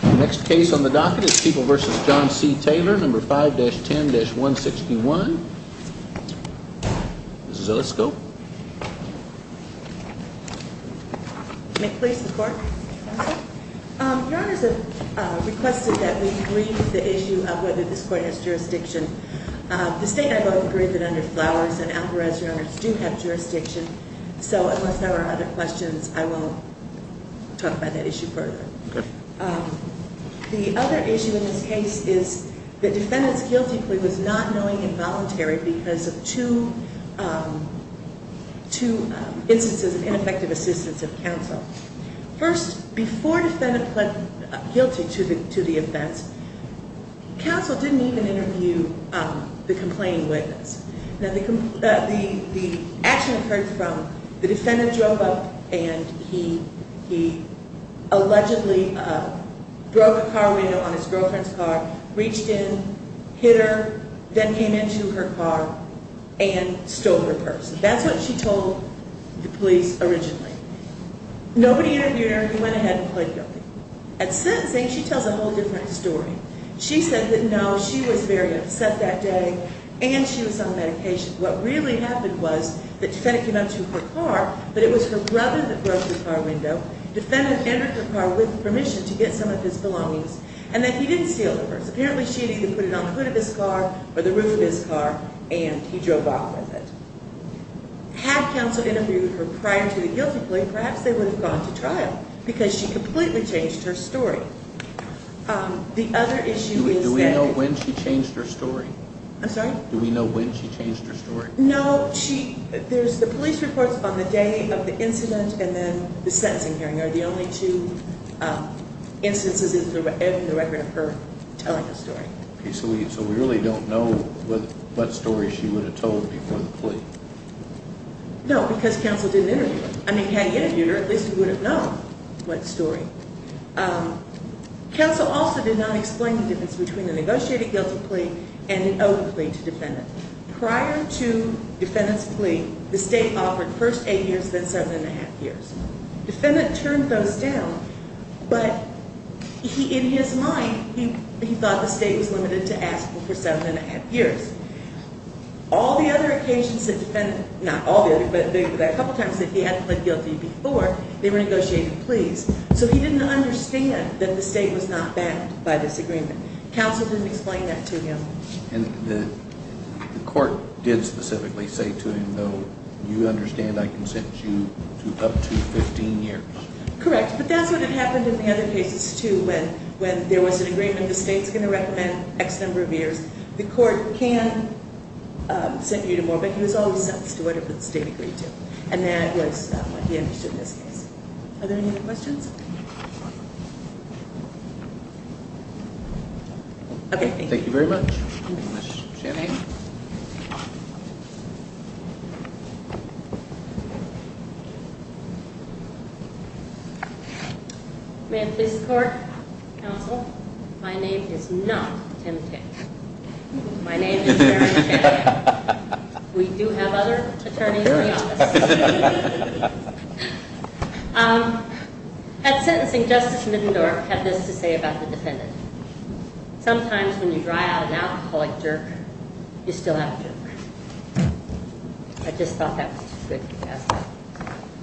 The next case on the docket is People v. John C. Taylor, No. 5-10-161. Ms. Zillow, let's go. May it please the Court? Your Honors, I've requested that we leave the issue of whether this court has jurisdiction. The State and I both agree that under Flowers and Alvarez, Your Honors, do have jurisdiction. So unless there are other questions, I won't talk about that issue further. The other issue in this case is the defendant's guilty plea was not knowing and voluntary because of two instances of ineffective assistance of counsel. First, before the defendant pled guilty to the offense, counsel didn't even interview the complaining witness. The action occurred from the defendant drove up and he allegedly broke a car window on his girlfriend's car, reached in, hit her, then came into her car and stole her purse. That's what she told the police originally. Nobody interviewed her. He went ahead and pled guilty. At sentencing, she tells a whole different story. She said that, no, she was very upset that day and she was on medication. What really happened was that the defendant came up to her car, but it was her brother that broke the car window. The defendant entered the car with permission to get some of his belongings and then he didn't steal the purse. Apparently, she had either put it on the hood of his car or the roof of his car and he drove off with it. Had counsel interviewed her prior to the guilty plea, perhaps they would have gone to trial because she completely changed her story. The other issue is that- Do we know when she changed her story? I'm sorry? Do we know when she changed her story? No, there's the police reports on the day of the incident and then the sentencing hearing are the only two instances in the record of her telling the story. So we really don't know what story she would have told before the plea? No, because counsel didn't interview her. I mean, had he interviewed her, at least he would have known what story. Counsel also did not explain the difference between the negotiated guilty plea and an open plea to defendant. Prior to defendant's plea, the state offered first eight years, then seven and a half years. Defendant turned those down, but in his mind, he thought the state was limited to asking for seven and a half years. All the other occasions that defendant, not all the other, but a couple times that he hadn't pled guilty before, they were negotiated pleas. So he didn't understand that the state was not backed by this agreement. Counsel didn't explain that to him. And the court did specifically say to him, though, you understand I can set you up to 15 years? Correct, but that's what had happened in the other cases, too. When there was an agreement, the state's going to recommend X number of years. The court can set you to more, but he was always set to do whatever the state agreed to. And that was what he understood in this case. Are there any other questions? Thank you very much. Thank you very much, Jim. Thank you. May it please the court, counsel, my name is not Tim Tate. My name is Mary Tate. We do have other attorneys in the office. At sentencing, Justice Middendorf had this to say about the defendant. Sometimes when you dry out an alcoholic jerk, you still have a jerk. I just thought that was too good to pass up.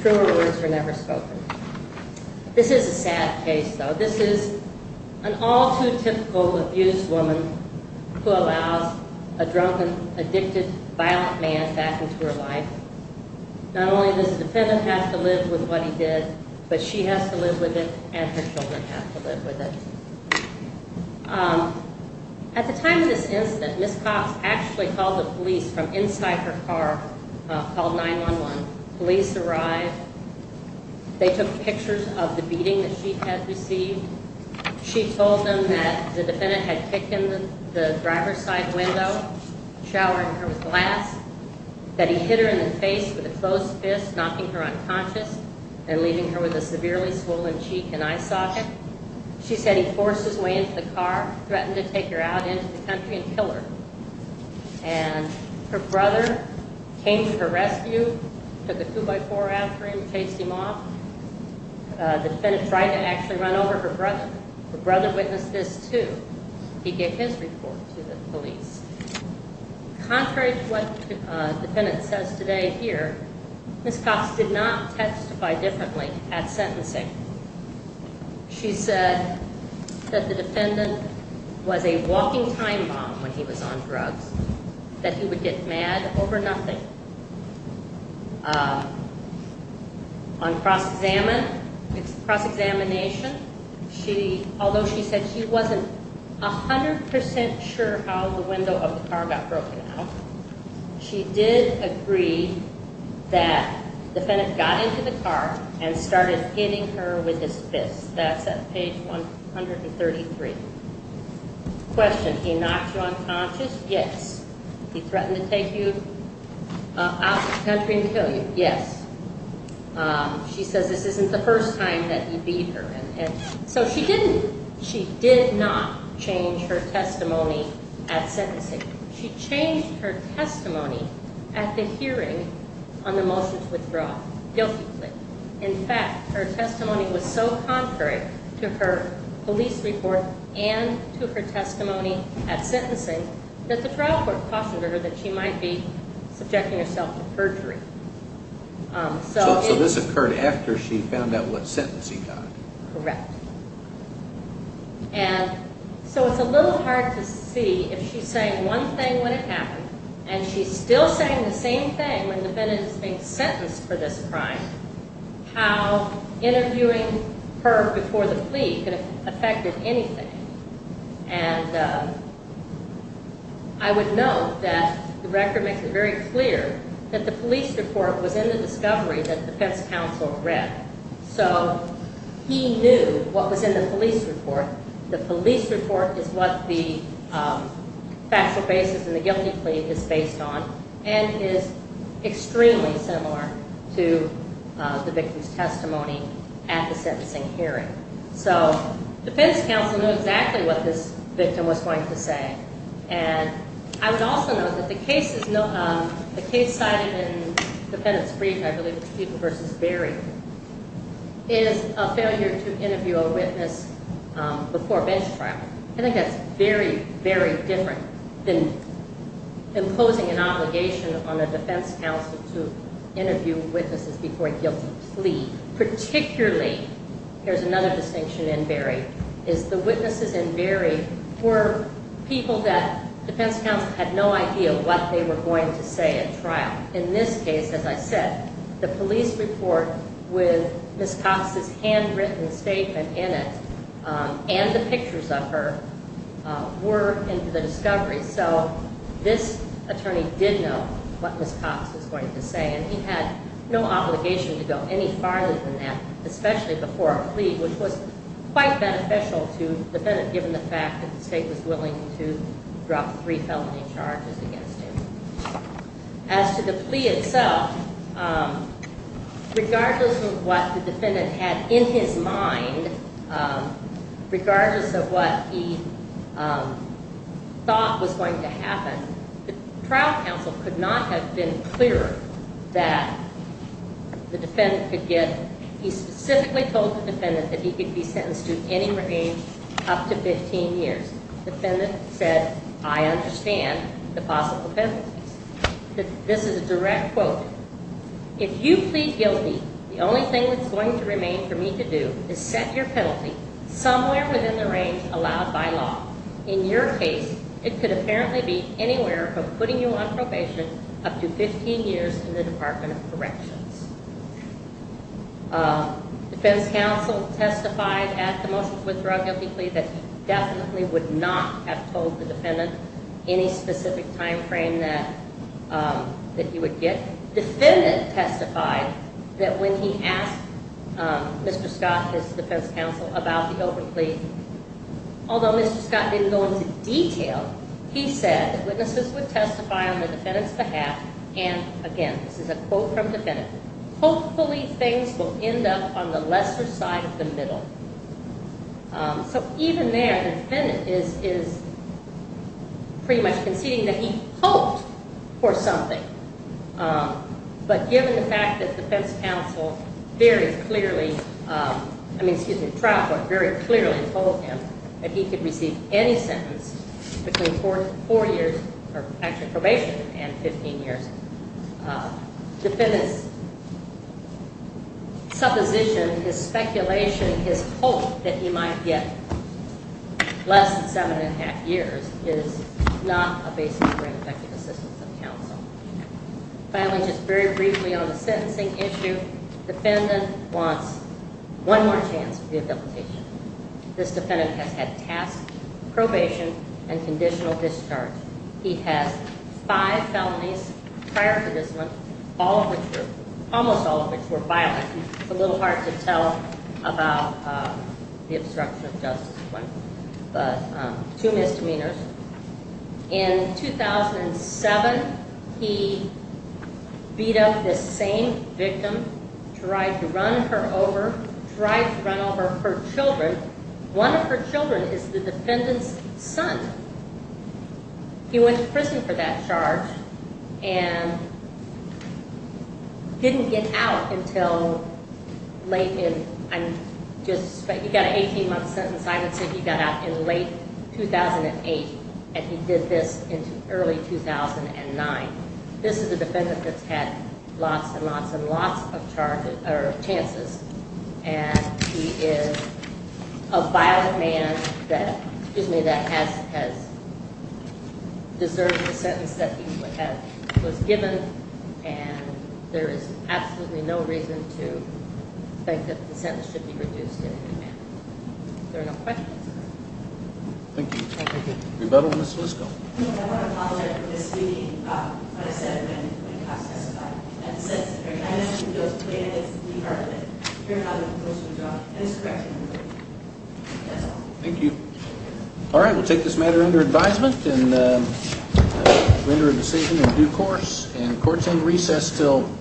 Truer words were never spoken. This is a sad case, though. This is an all too typical abused woman who allows a drunken, addicted, violent man back into her life. Not only does the defendant have to live with what he did, but she has to live with it and her children have to live with it. At the time of this incident, Ms. Cox actually called the police from inside her car, called 911. Police arrived. They took pictures of the beating that she had received. She told them that the defendant had kicked in the driver's side window, showered her with glass, that he hit her in the face with a closed fist, knocking her unconscious and leaving her with a severely swollen cheek and eye socket. She said he forced his way into the car, threatened to take her out into the country and kill her. And her brother came to her rescue, took a two-by-four after him, chased him off. The defendant tried to actually run over her brother. Her brother witnessed this, too. He gave his report to the police. Contrary to what the defendant says today here, Ms. Cox did not testify differently at sentencing. She said that the defendant was a walking time bomb when he was on drugs, that he would get mad over nothing. On cross-examination, although she said she wasn't 100 percent sure how the window of the car got broken out, she did agree that the defendant got into the car and started hitting her with his fist. That's at page 133. Question, he knocked you unconscious? Yes. He threatened to take you out of the country and kill you? Yes. She says this isn't the first time that he beat her. So she didn't, she did not change her testimony at sentencing. She changed her testimony at the hearing on the motion to withdraw, guilty plea. In fact, her testimony was so contrary to her police report and to her testimony at sentencing that the trial court cautioned her that she might be subjecting herself to perjury. So this occurred after she found out what sentence he got? Correct. And so it's a little hard to see if she's saying one thing when it happened and she's still saying the same thing when the defendant is being sentenced for this crime, how interviewing her before the plea could have affected anything. And I would note that the record makes it very clear that the police report was in the discovery that the defense counsel read. So he knew what was in the police report. The police report is what the factual basis in the guilty plea is based on and is extremely similar to the victim's testimony at the sentencing hearing. So the defense counsel knew exactly what this victim was going to say. And I would also note that the case cited in the defendant's brief, I believe it was Stephen v. Berry, is a failure to interview a witness before a bench trial. I think that's very, very different than imposing an obligation on a defense counsel to interview witnesses before a guilty plea. Particularly, here's another distinction in Berry, is the witnesses in Berry were people that defense counsel had no idea what they were going to say at trial. In this case, as I said, the police report with Ms. Cox's handwritten statement in it and the pictures of her were in the discovery. So this attorney did know what Ms. Cox was going to say, and he had no obligation to go any farther than that, especially before a plea, which was quite beneficial to the defendant, given the fact that the state was willing to drop three felony charges against him. As to the plea itself, regardless of what the defendant had in his mind, regardless of what he thought was going to happen, the trial counsel could not have been clearer that the defendant could get, he specifically told the defendant that he could be sentenced to any range up to 15 years. The defendant said, I understand the possible penalties. This is a direct quote. If you plead guilty, the only thing that's going to remain for me to do is set your penalty somewhere within the range allowed by law. In your case, it could apparently be anywhere from putting you on probation up to 15 years in the Department of Corrections. Defense counsel testified at the motions withdrawal guilty plea that he definitely would not have told the defendant any specific time frame that he would get. The defendant testified that when he asked Mr. Scott, his defense counsel, about the overt plea, although Mr. Scott didn't go into detail, he said that witnesses would testify on the defendant's behalf, and again, this is a quote from the defendant, hopefully things will end up on the lesser side of the middle. So even there, the defendant is pretty much conceding that he hoped for something. But given the fact that defense counsel very clearly, I mean, excuse me, trial court very clearly told him that he could receive any sentence between four years of actual probation and 15 years, the defendant's supposition, his speculation, his hope that he might get less than seven and a half years is not a basis for effective assistance of counsel. Finally, just very briefly on the sentencing issue, defendant wants one more chance for rehabilitation. This defendant has had task probation and conditional discharge. He has five felonies prior to this one, almost all of which were violent. It's a little hard to tell about the obstruction of justice one, but two misdemeanors. In 2007, he beat up this same victim, tried to run her over, tried to run over her children. One of her children is the defendant's son. He went to prison for that charge and didn't get out until late in, I'm just, you've got an 18-month sentence. I would say he got out in late 2008, and he did this in early 2009. This is a defendant that's had lots and lots and lots of chances, and he is a violent man that has deserved the sentence that he was given, and there is absolutely no reason to think that the sentence should be reduced to a new man. Are there no questions? Thank you. Rebuttal, Ms. Fusco. I want to apologize for misreading what I said when cops testified. That's it. I'm asking those plaintiffs in the department to turn out a compulsive job. That is correct. That's all. Thank you. All right. We'll take this matter under advisement and render a decision in due course, and court's on recess until 11 p.m.